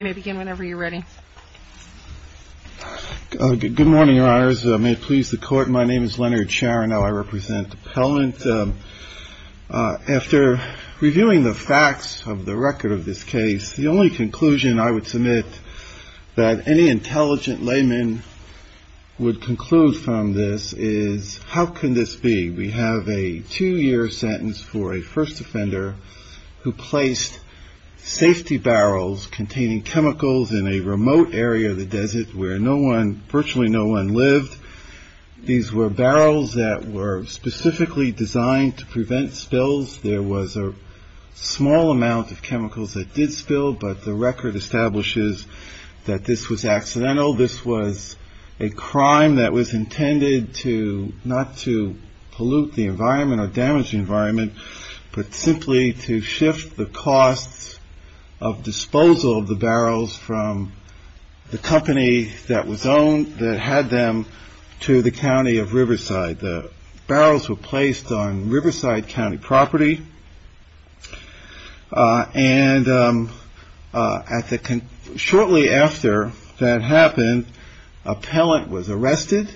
Good morning, your honors. May it please the court, my name is Leonard Scharenow, I represent the appellant. After reviewing the facts of the record of this case, the only conclusion I would submit that any intelligent layman would conclude from this is, how can this be? We have a two year sentence for a first offender who placed safety barrels containing chemicals in a remote area of the desert where virtually no one lived. These were barrels that were specifically designed to prevent spills. There was a small amount of chemicals that did spill, but the record establishes that this was accidental. This was a crime that was intended not to pollute the environment or damage the environment, but simply to shift the costs of disposal of the barrels from the company that was owned, that had them, to the county of Riverside. The barrels were placed on Riverside County property, and shortly after that happened, the appellant was arrested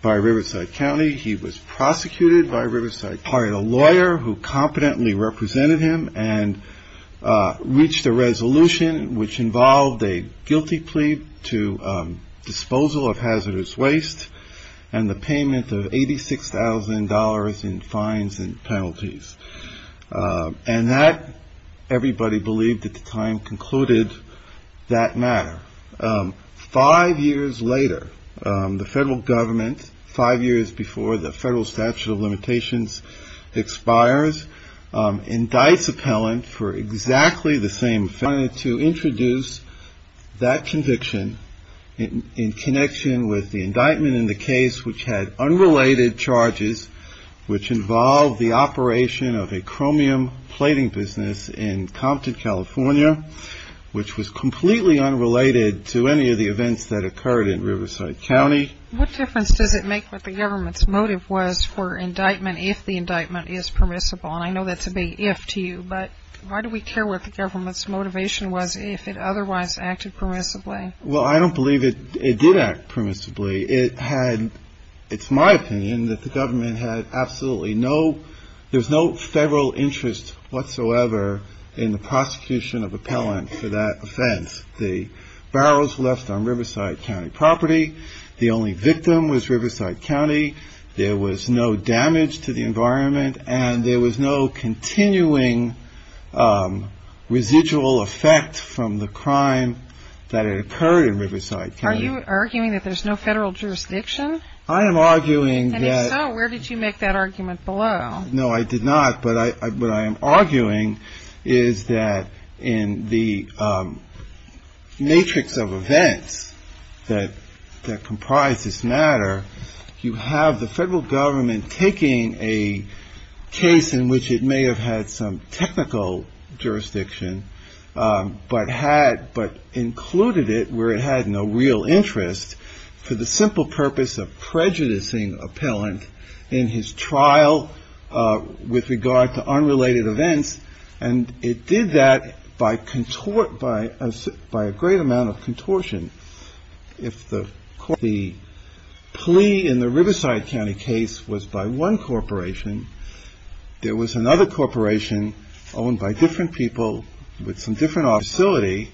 by Riverside County. He was prosecuted by reached a resolution which involved a guilty plea to disposal of hazardous waste, and the payment of $86,000 in fines and penalties. And that everybody believed at the time concluded that matter. Five years later, the federal government, five years before the federal statute of limitations expires, indicts appellant for exactly the same offense. I wanted to introduce that conviction in connection with the indictment in the case which had unrelated charges, which involved the operation of a chromium plating business in Compton, California, which was completely unrelated to any of the events that occurred in Riverside County. What difference does it make what the government's motive was for indictment if the indictment is permissible? And I know that's a big if to you, but why do we care what the government's motivation was if it otherwise acted permissibly? Well, I don't believe it did act permissibly. It had, it's my opinion that the government had absolutely no, there's no federal interest whatsoever in the prosecution of appellant for that offense. The barrels left on Riverside County property. The only victim was Riverside County. There was no damage to the environment, and there was no continuing residual effect from the crime that it occurred. Are you arguing that there's no federal jurisdiction? I am arguing that... And if so, where did you make that argument below? No, I did not. But what I am arguing is that in the matrix of events that comprise this matter, you have the federal government taking a case in which it may have had some technical jurisdiction, but had, but included it where it had no real interest for the simple purpose of prejudicing appellant in his trial. With regard to unrelated events, and it did that by contort, by a great amount of contortion. If the plea in the Riverside County case was by one corporation, there was another corporation owned by different people with some different facility.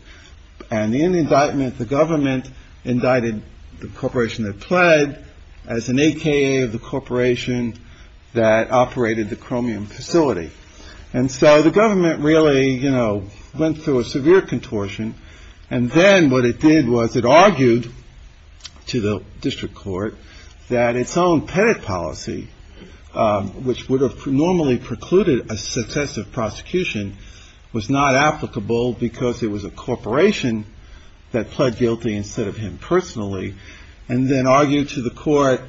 And in the indictment, the government indicted the corporation that pled as an AKA of the corporation that operated the chromium facility. And so the government really, you know, went through a severe contortion. And then what it did was it argued to the district court that its own pettit policy, which would have normally precluded a successive prosecution, was not applicable because it was a corporation that pled guilty instead of him personally. And then argued to the court,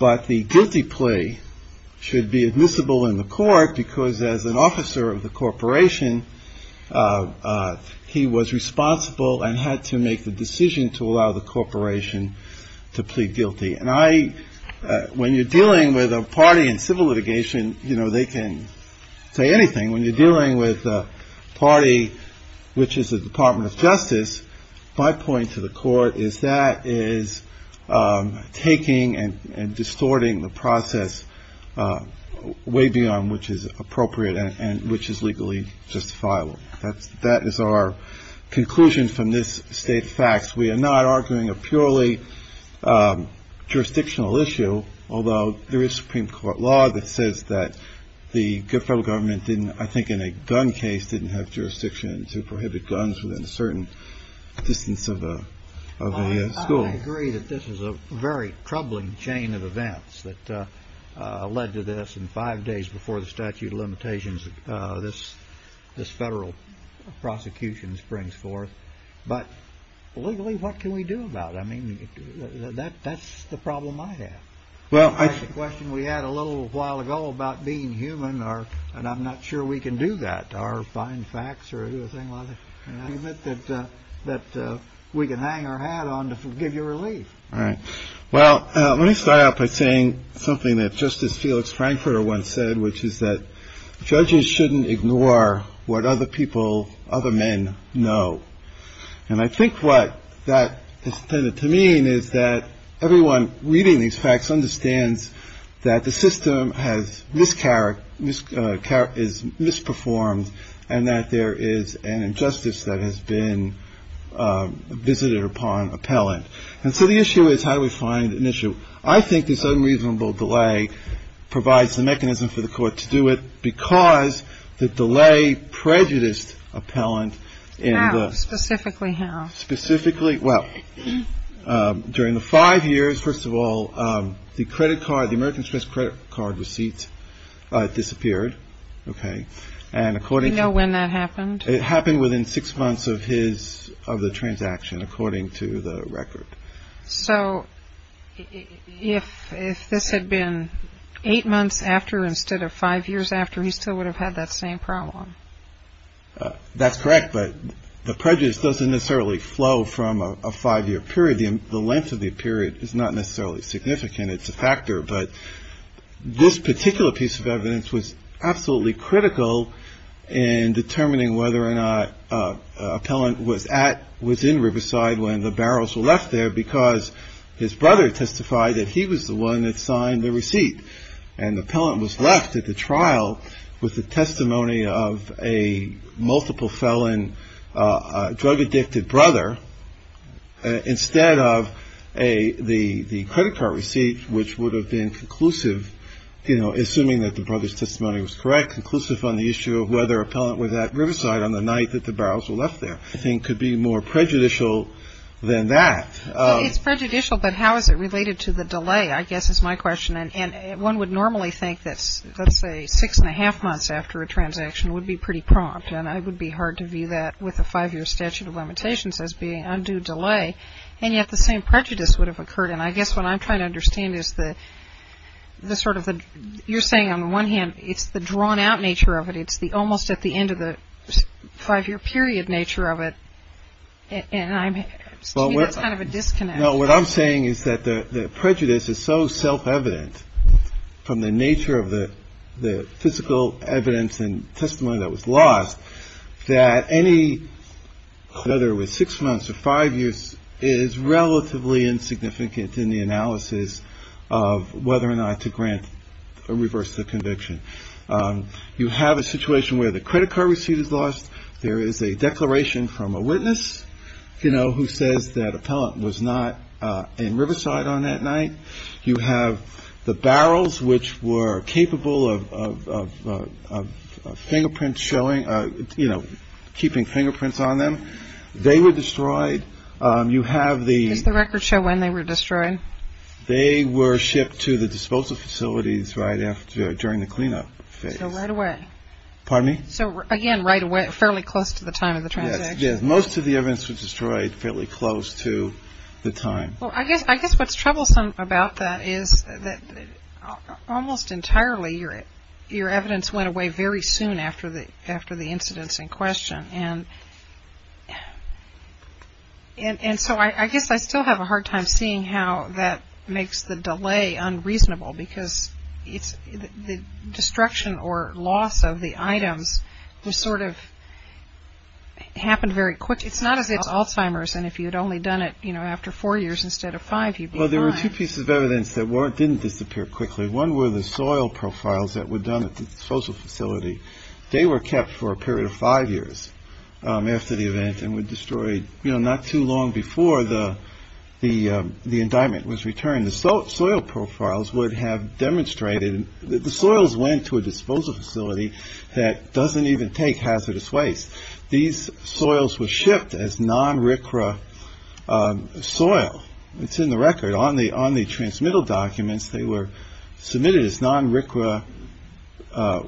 but the guilty plea should be admissible in the court because as an officer of the corporation, he was responsible and had to make the decision to allow the corporation to plead guilty. And I when you're dealing with a party in civil litigation, you know, they can say anything when you're dealing with a party, which is the Department of Justice. My point to the court is that is taking and distorting the process way beyond which is appropriate and which is legally justifiable. That's that is our conclusion from this state facts. We are not arguing a purely jurisdictional issue, although there is Supreme Court law that says that the federal government didn't, I think, in a gun case, didn't have jurisdiction to prohibit guns within a certain distance of a school. I agree that this is a very troubling chain of events that led to this. And five days before the statute of limitations, this this federal prosecutions brings forth. But legally, what can we do about it? I mean, that that's the problem I have. Well, I question we had a little while ago about being human or and I'm not sure we can do that or find facts or anything like that, that that we can hang our hat on to give you relief. All right. Well, let me start out by saying something that Justice Felix Frankfurter once said, which is that judges shouldn't ignore what other people, other men know. And I think what that is intended to mean is that everyone reading these facts understands that the system has miscarriage is misperformed and that there is an injustice that has been visited upon appellant. And so the issue is, how do we find an issue? I think this unreasonable delay provides the mechanism for the court to do it because the delay prejudiced appellant. And specifically how specifically? Well, during the five years. First of all, the credit card, the American Express credit card receipts disappeared. OK. And according to when that happened, it happened within six months of his of the transaction, according to the record. So if if this had been eight months after instead of five years after, he still would have had that same problem. That's correct. But the prejudice doesn't necessarily flow from a five year period. The length of the period is not necessarily significant. It's a factor. But this particular piece of evidence was absolutely critical in determining whether or not appellant was at was in Riverside when the barrels were left there because his brother testified that he was the one that signed the receipt. And the appellant was left at the trial with the testimony of a multiple felon drug addicted brother instead of a the credit card receipt, which would have been conclusive, you know, assuming that the brother's testimony was correct, conclusive on the issue of whether appellant was at Riverside on the night that the barrels were left there. I think could be more prejudicial than that. It's prejudicial. But how is it related to the delay? I guess is my question. And one would normally think that, let's say, six and a half months after a transaction would be pretty prompt. And I would be hard to view that with a five year statute of limitations as being undue delay. And yet the same prejudice would have occurred. And I guess what I'm trying to understand is that the sort of you're saying, on the one hand, it's the drawn out nature of it. It's the almost at the end of the five year period nature of it. And I'm kind of a disconnect. Now, what I'm saying is that the prejudice is so self-evident from the nature of the physical evidence and testimony that was lost that any whether it was six months or five years is relatively insignificant in the analysis of whether or not to grant a reverse conviction. You have a situation where the credit card receipt is lost. There is a declaration from a witness, you know, who says that appellant was not in Riverside on that night. You have the barrels which were capable of fingerprints showing, you know, keeping fingerprints on them. They were destroyed. You have the record show when they were destroyed. They were shipped to the disposal facilities right after during the cleanup phase. Right away. Pardon me. So again, right away, fairly close to the time of the transaction. Most of the evidence was destroyed fairly close to the time. Well, I guess I guess what's troublesome about that is that almost entirely your your evidence went away very soon after the after the incidents in question. And and so I guess I still have a hard time seeing how that makes the delay unreasonable because it's the destruction or loss of the items. This sort of happened very quick. It's not as it's Alzheimer's. And if you'd only done it, you know, after four years instead of five. Well, there were two pieces of evidence that weren't didn't disappear quickly. One were the soil profiles that were done at the disposal facility. They were kept for a period of five years after the event and were destroyed. You know, not too long before the the the indictment was returned. The salt soil profiles would have demonstrated that the soils went to a disposal facility that doesn't even take hazardous waste. These soils were shipped as non-recreation soil. It's in the record on the on the transmittal documents. They were submitted as non-recreation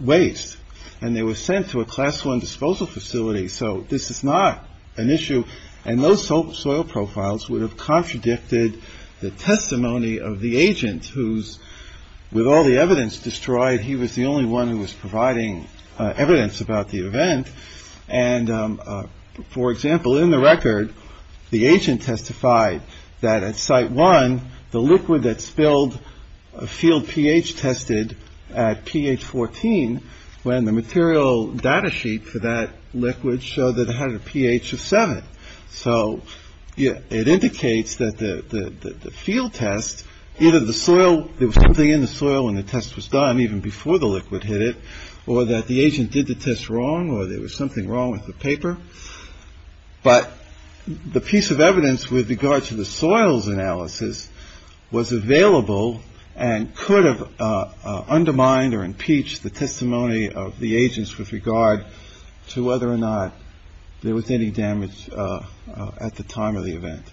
waste and they were sent to a class one disposal facility. So this is not an issue. And those soil profiles would have contradicted the testimony of the agent who's with all the evidence destroyed. He was the only one who was providing evidence about the event. And, for example, in the record, the agent testified that at site one, the liquid that spilled a field pH tested at pH 14 when the material data sheet for that liquid showed that it had a pH of seven. So, yeah, it indicates that the field test, either the soil, there was something in the soil and the test was done even before the liquid hit it or that the agent did the test wrong or there was something wrong with the paper. But the piece of evidence with regard to the soils analysis was available and could have undermined or impeached the testimony of the agents with regard to whether or not there was any damage. At the time of the event.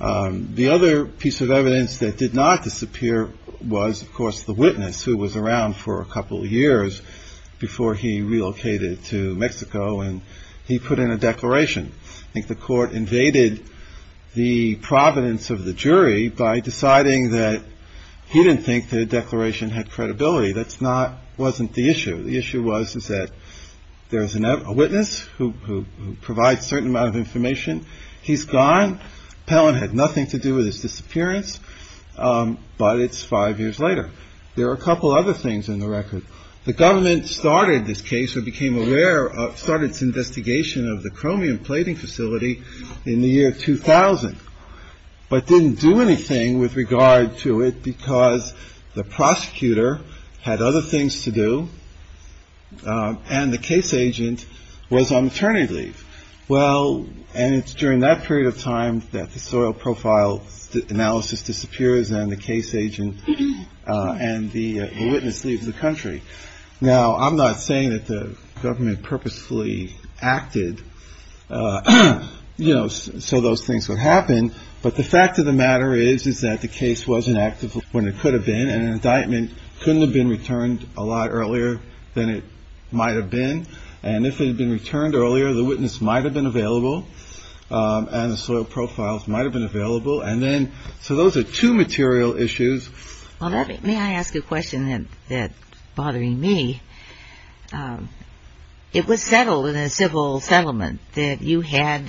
The other piece of evidence that did not disappear was, of course, the witness who was around for a couple of years before he relocated to Mexico and he put in a declaration. I think the court invaded the providence of the jury by deciding that he didn't think the declaration had credibility. That's not wasn't the issue. The issue was, is that there is a witness who provides certain amount of information. He's gone. Pellin had nothing to do with his disappearance. But it's five years later. There are a couple other things in the record. The government started this case or became aware of started its investigation of the chromium plating facility in the year 2000, but didn't do anything with regard to it because the prosecutor had other things to do. And the case agent was on maternity leave. Well, and it's during that period of time that the soil profile analysis disappears and the case agent and the witness leaves the country. Now, I'm not saying that the government purposefully acted, you know, so those things would happen. But the fact of the matter is, is that the case wasn't active when it could have been an indictment. Couldn't have been returned a lot earlier than it might have been. And if it had been returned earlier, the witness might have been available and the soil profiles might have been available. And then. So those are two material issues. May I ask a question that that bothering me? It was settled in a civil settlement that you had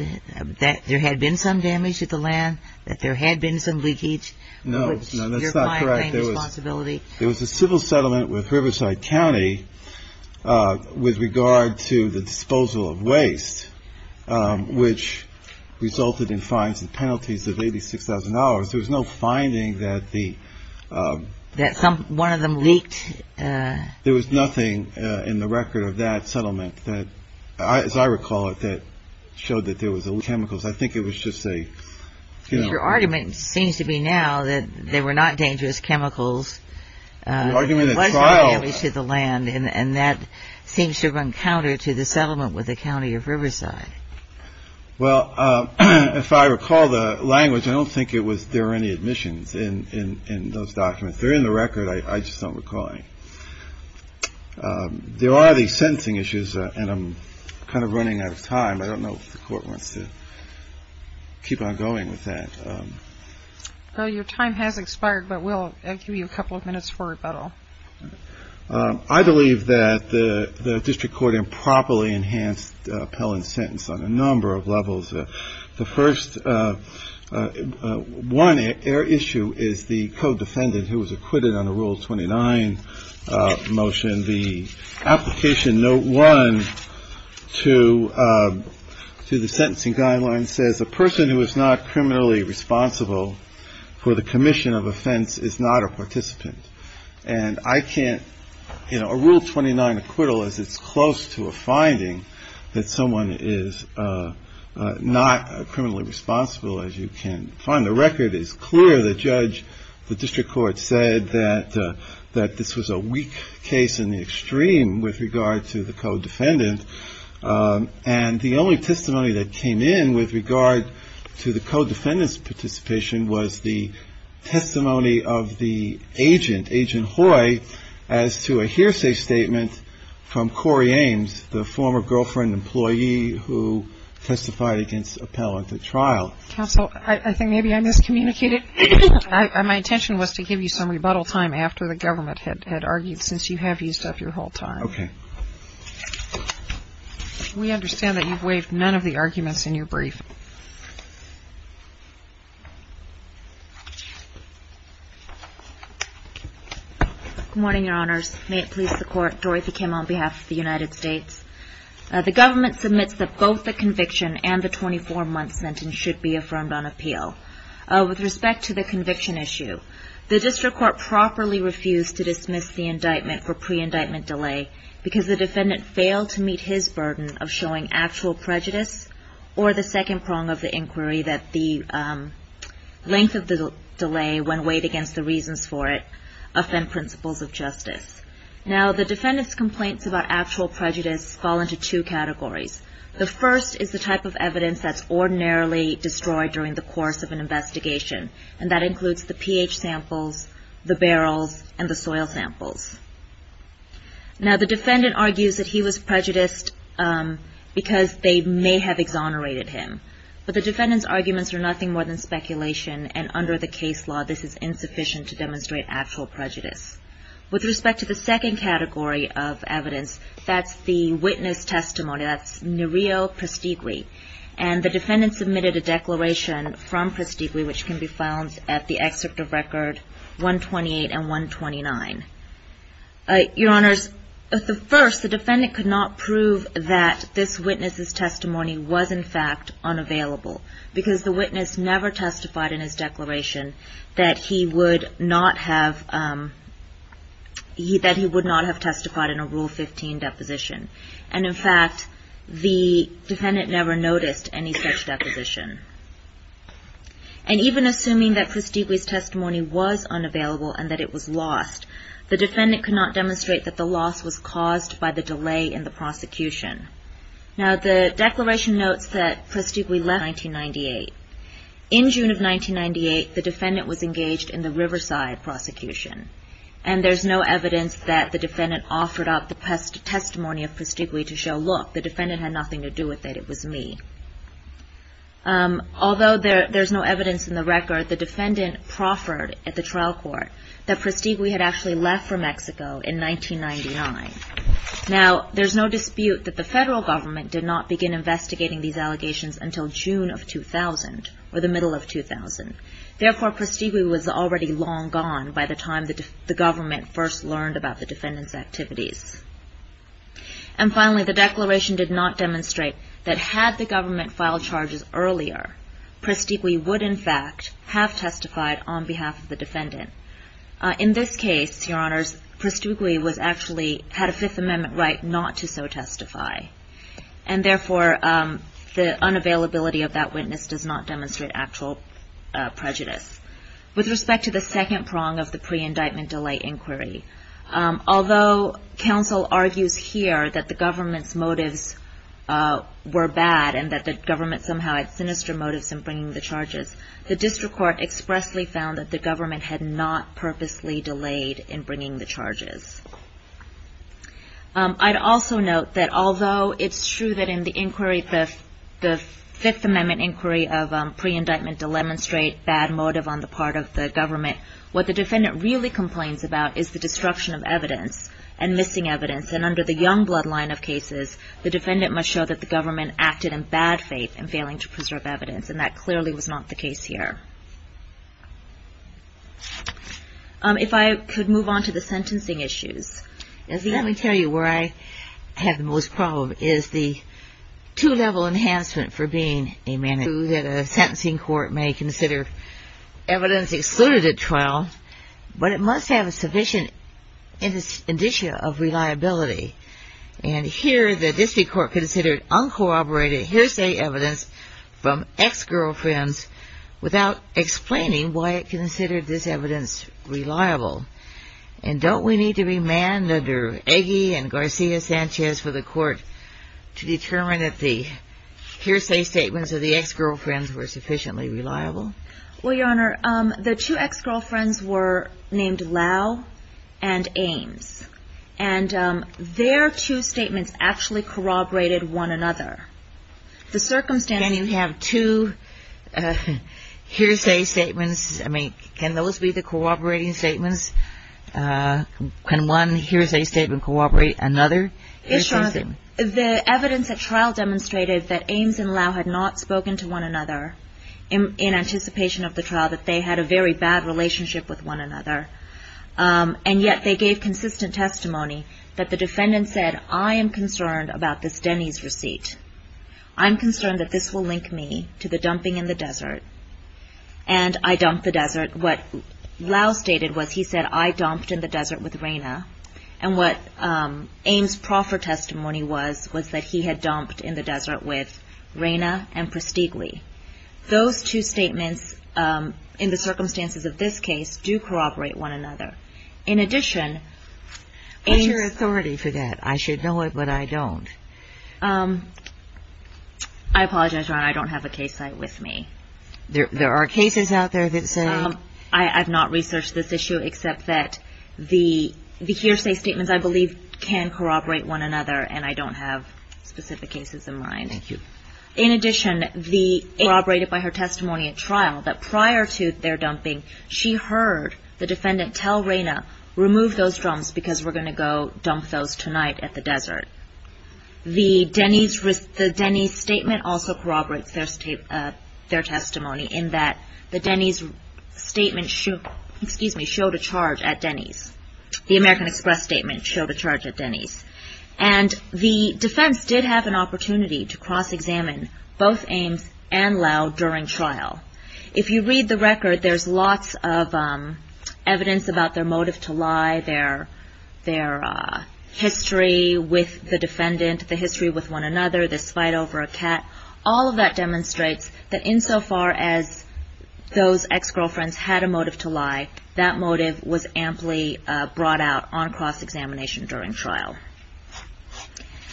that there had been some damage to the land, that there had been some leakage. No, no, that's not correct. There was possibility. There was a civil settlement with Riverside County with regard to the disposal of waste, which resulted in fines and penalties of eighty six thousand dollars. There was no finding that the that some one of them leaked. There was nothing in the record of that settlement that, as I recall it, that showed that there was chemicals. I think it was just say your argument seems to be now that they were not dangerous chemicals. Argument to the land and that seems to run counter to the settlement with the county of Riverside. Well, if I recall the language, I don't think it was there any admissions in those documents. They're in the record. I just don't recall. There are these sentencing issues and I'm kind of running out of time. I don't know if the court wants to keep on going with that. Your time has expired, but we'll give you a couple of minutes for rebuttal. I believe that the district court improperly enhanced appellant sentence on a number of levels. The first one issue is the co-defendant who was acquitted on a rule twenty nine motion. The application no one to to the sentencing guideline says a person who is not criminally responsible for the commission of offense is not a participant. And I can't rule twenty nine acquittal as it's close to a finding that someone is not criminally responsible as you can find. The record is clear. The judge, the district court said that that this was a weak case in the extreme with regard to the co-defendant. And the only testimony that came in with regard to the co-defendants participation was the testimony of the agent, Agent Hoy, as to a hearsay statement from Corey Ames, the former girlfriend employee who testified against appellant at trial. Counsel, I think maybe I miscommunicated. My intention was to give you some rebuttal time after the government had argued since you have used up your whole time. We understand that you've waived none of the arguments in your brief. Good morning, Your Honors. May it please the court, Dorothy Kim on behalf of the United States. The government submits that both the conviction and the 24 month sentence should be affirmed on appeal. With respect to the conviction issue, the district court properly refused to dismiss the indictment for pre-indictment delay because the defendant failed to meet his burden of showing actual prejudice or the second prong of the inquiry that the length of the delay when weighed against the reasons for it offend principles of justice. Now, the defendant's complaints about actual prejudice fall into two categories. The first is the type of evidence that's ordinarily destroyed during the course of an investigation, and that includes the pH samples, the barrels, and the soil samples. Now, the defendant argues that he was prejudiced because they may have exonerated him, but the defendant's arguments are nothing more than speculation, and under the case law, this is insufficient to demonstrate actual prejudice. With respect to the second category of evidence, that's the witness testimony. That's Nereo Prestigui, and the defendant submitted a declaration from Prestigui, which can be found at the excerpt of Record 128 and 129. Your Honors, at first, the defendant could not prove that this witness's testimony was, in fact, unavailable because the witness never testified in his declaration that he would not have testified in a Rule 15 deposition. And, in fact, the defendant never noticed any such deposition. And even assuming that Prestigui's testimony was unavailable and that it was lost, the defendant could not demonstrate that the loss was caused by the delay in the prosecution. Now, the declaration notes that Prestigui left in 1998. In June of 1998, the defendant was engaged in the Riverside prosecution, and there's no evidence that the defendant offered up the testimony of Prestigui to show, look, the defendant had nothing to do with it, it was me. Although there's no evidence in the record, the defendant proffered at the trial court that Prestigui had actually left for Mexico in 1999. Now, there's no dispute that the federal government did not begin investigating these allegations until June of 2000, or the middle of 2000. Therefore, Prestigui was already long gone by the time the government first learned about the defendant's activities. And finally, the declaration did not demonstrate that had the government filed charges earlier, Prestigui would, in fact, have testified on behalf of the defendant. In this case, Your Honors, Prestigui had a Fifth Amendment right not to so testify, and therefore the unavailability of that witness does not demonstrate actual prejudice. With respect to the second prong of the pre-indictment delay inquiry, although counsel argues here that the government's motives were bad and that the government somehow had sinister motives in bringing the charges, the district court expressly found that the government had not purposely delayed in bringing the charges. I'd also note that although it's true that in the inquiry, the Fifth Amendment inquiry of pre-indictment to demonstrate bad motive on the part of the government, what the defendant really complains about is the destruction of evidence and missing evidence. And under the Youngblood line of cases, the defendant must show that the government acted in bad faith in failing to preserve evidence, and that clearly was not the case here. If I could move on to the sentencing issues. Let me tell you where I have the most problem is the two-level enhancement for being a man of truth. A sentencing court may consider evidence excluded at trial, but it must have a sufficient indicia of reliability. And here, the district court considered uncorroborated hearsay evidence from ex-girlfriends without explaining why it considered this evidence reliable. And don't we need to be manned under Eggie and Garcia-Sanchez for the court to determine that the hearsay statements of the ex-girlfriends were sufficiently reliable? Well, Your Honor, the two ex-girlfriends were named Lau and Ames. And their two statements actually corroborated one another. Can you have two hearsay statements? I mean, can those be the corroborating statements? Can one hearsay statement corroborate another hearsay statement? Yes, Your Honor. The evidence at trial demonstrated that Ames and Lau had not spoken to one another in anticipation of the trial, that they had a very bad relationship with one another. And yet they gave consistent testimony that the defendant said, I am concerned about this Denny's receipt. I'm concerned that this will link me to the dumping in the desert. And I dumped the desert. What Lau stated was he said, I dumped in the desert with Raina. And what Ames' proffer testimony was, was that he had dumped in the desert with Raina and Pristigli. Those two statements, in the circumstances of this case, do corroborate one another. In addition — What's your authority for that? I should know it, but I don't. I apologize, Your Honor. I don't have a case site with me. There are cases out there that say — I have not researched this issue except that the hearsay statements, I believe, can corroborate one another, and I don't have specific cases in mind. Thank you. In addition, it was corroborated by her testimony at trial that prior to their dumping, she heard the defendant tell Raina, remove those drums because we're going to go dump those tonight at the desert. The Denny's statement also corroborates their testimony in that the Denny's statement showed a charge at Denny's. The American Express statement showed a charge at Denny's. And the defense did have an opportunity to cross-examine both Ames and Lowe during trial. If you read the record, there's lots of evidence about their motive to lie, their history with the defendant, the history with one another, this fight over a cat. All of that demonstrates that insofar as those ex-girlfriends had a motive to lie, that motive was amply brought out on cross-examination during trial.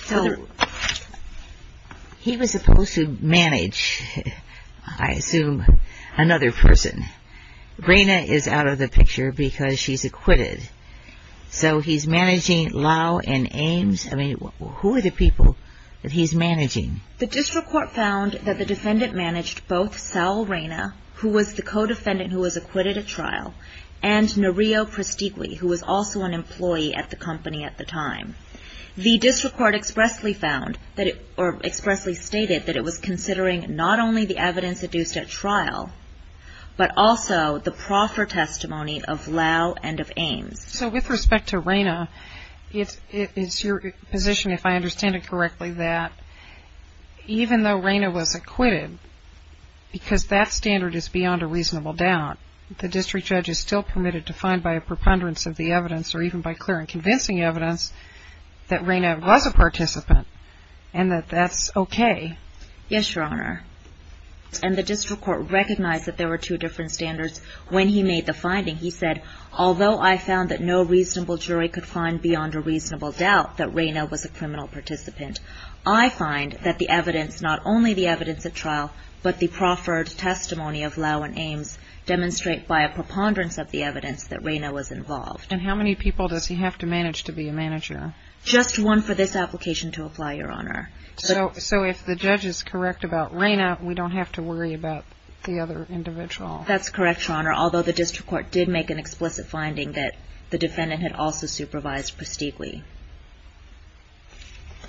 So he was supposed to manage, I assume, another person. Raina is out of the picture because she's acquitted. So he's managing Lowe and Ames? I mean, who are the people that he's managing? The district court found that the defendant managed both Sal Raina, who was the co-defendant who was acquitted at trial, and Nereo Prestiqui, who was also an employee at the company at the time. The district court expressly found, or expressly stated, that it was considering not only the evidence adduced at trial, but also the proffer testimony of Lowe and of Ames. So with respect to Raina, it's your position, if I understand it correctly, that even though Raina was acquitted, because that standard is beyond a reasonable doubt, the district judge is still permitted to find by a preponderance of the evidence, or even by clear and convincing evidence, that Raina was a participant, and that that's okay? Yes, Your Honor. And the district court recognized that there were two different standards when he made the finding. He said, although I found that no reasonable jury could find beyond a reasonable doubt that Raina was a criminal participant, I find that the evidence, not only the evidence at trial, but the proffered testimony of Lowe and Ames, demonstrate by a preponderance of the evidence that Raina was involved. And how many people does he have to manage to be a manager? Just one for this application to apply, Your Honor. So if the judge is correct about Raina, we don't have to worry about the other individual? That's correct, Your Honor, although the district court did make an explicit finding that the defendant had also supervised Prestigui.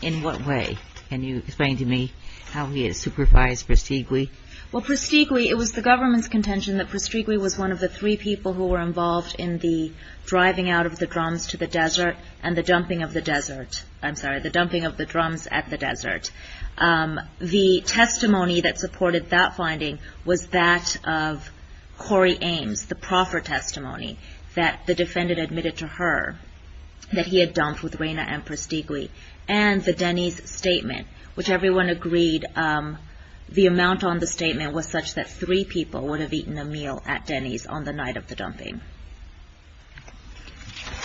In what way? Can you explain to me how he had supervised Prestigui? Well, Prestigui, it was the government's contention that Prestigui was one of the three people who were involved in the driving out of the drums to the desert and the dumping of the desert. I'm sorry, the dumping of the drums at the desert. The testimony that supported that finding was that of Corey Ames, the proffered testimony that the defendant admitted to her that he had dumped with Raina and Prestigui. And the Denny's statement, which everyone agreed the amount on the statement was such that three people would have eaten a meal at Denny's on the night of the dumping.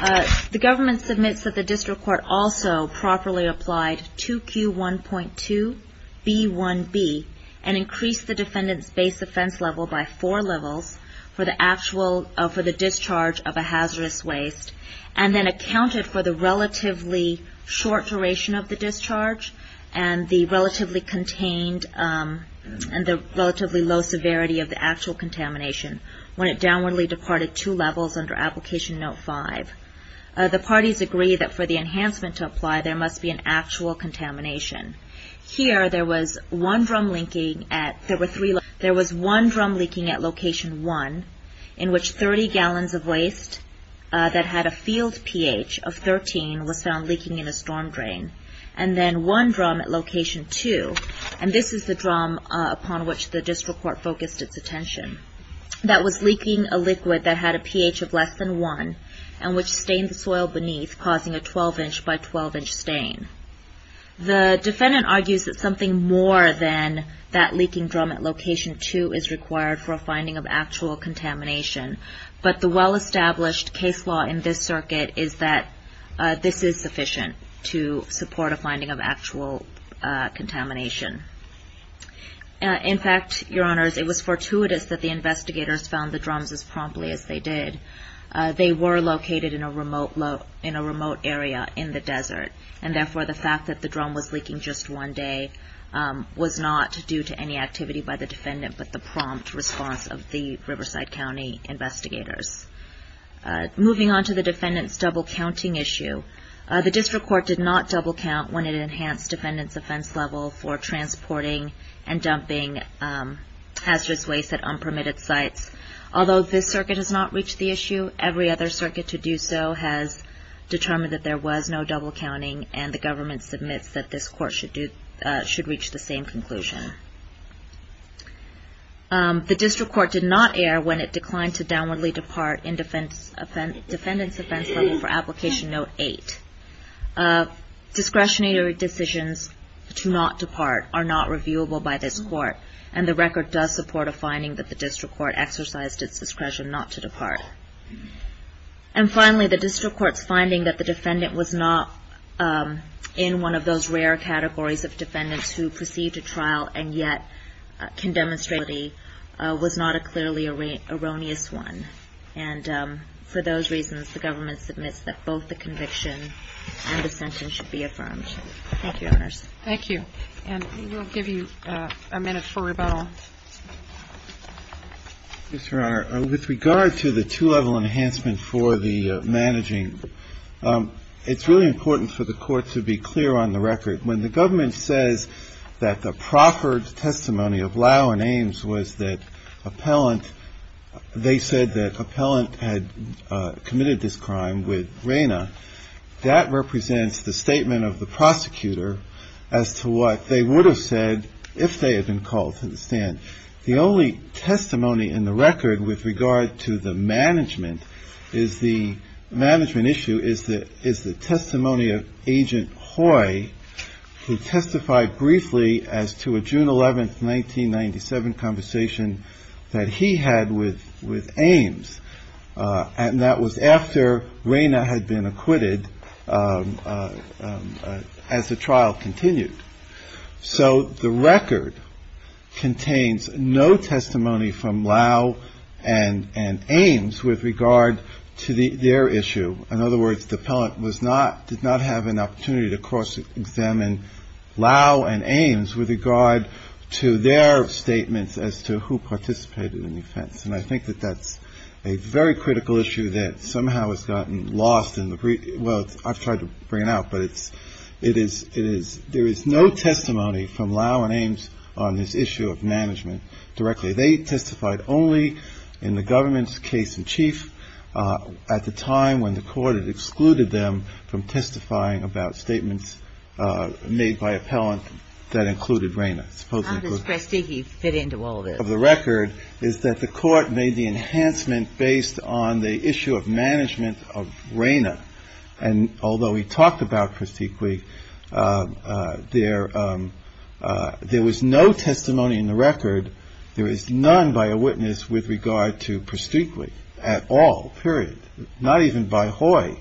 The government submits that the district court also properly applied 2Q1.2B1B and increased the defendant's base offense level by four levels for the discharge of a hazardous waste and then accounted for the relatively short duration of the discharge and the relatively low severity of the actual contamination when it downwardly departed two levels under Application Note 5. The parties agree that for the enhancement to apply, there must be an actual contamination. Here, there was one drum leaking at Location 1 in which 30 gallons of waste that had a field pH of 13 was found leaking in a storm drain and then one drum at Location 2, and this is the drum upon which the district court focused its attention. That was leaking a liquid that had a pH of less than one and which stained the soil beneath causing a 12 inch by 12 inch stain. The defendant argues that something more than that leaking drum at Location 2 is required for a finding of actual contamination, but the well-established case law in this circuit is that this is sufficient to support a finding of actual contamination. In fact, Your Honors, it was fortuitous that the investigators found the drums as promptly as they did. They were located in a remote area in the desert and therefore the fact that the drum was leaking just one day was not due to any activity by the defendant but the prompt response of the Riverside County investigators. Moving on to the defendant's double counting issue, the district court did not double count when it enhanced defendant's offense level for transporting and dumping hazardous waste at unpermitted sites. Although this circuit has not reached the issue, every other circuit to do so has determined that there was no double counting and the government submits that this court should reach the same conclusion. The district court did not err when it declined to downwardly depart in defendant's offense level for Application Note 8. Discretionary decisions to not depart are not reviewable by this court and the record does support a finding that the district court exercised its discretion not to depart. And finally, the district court's finding that the defendant was not in one of those rare categories of defendants who perceived a trial and yet was not a clearly erroneous one. And for those reasons, the government submits that both the conviction and the sentence should be affirmed. Thank you, Your Honors. Thank you. And we'll give you a minute for rebuttal. Yes, Your Honor. With regard to the two-level enhancement for the managing, it's really important for the court to be clear on the record. When the government says that the proffered testimony of Lau and Ames was that appellant, they said that appellant had committed this crime with Rayna, that represents the statement of the prosecutor as to what they would have said if they had been called to the stand. The only testimony in the record with regard to the management is the testimony of Agent Hoy, who testified briefly as to a June 11, 1997 conversation that he had with Ames. And that was after Rayna had been acquitted as the trial continued. So the record contains no testimony from Lau and Ames with regard to their issue. In other words, the appellant did not have an opportunity to cross-examine Lau and Ames with regard to their statements as to who participated in the offense. And I think that that's a very critical issue that somehow has gotten lost. Well, I've tried to bring it out, but there is no testimony from Lau and Ames on this issue of management directly. They testified only in the government's case in chief at the time when the court had excluded them from testifying about statements made by appellant that included Rayna. How does Prestique fit into all this? Of the record is that the court made the enhancement based on the issue of management of Rayna. And although he talked about Prestique, there was no testimony in the record, there is none by a witness with regard to Prestique at all, period, not even by Hoy,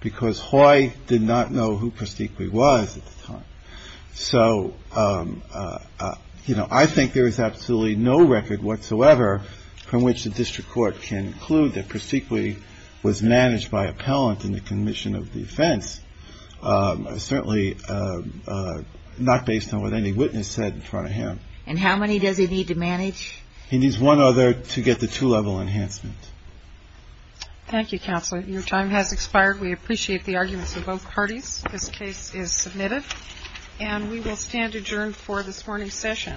because Hoy did not know who Prestique was at the time. So, you know, I think there is absolutely no record whatsoever from which the district court can conclude that Prestique was managed by appellant in the commission of the offense, certainly not based on what any witness said in front of him. And how many does he need to manage? He needs one other to get the two-level enhancement. Thank you, counsel. Your time has expired. We appreciate the arguments of both parties. This case is submitted. And we will stand adjourned for this morning's session.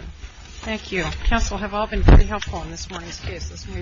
Thank you. Counsel have all been pretty helpful in this morning's cases, and we appreciate it. All rise.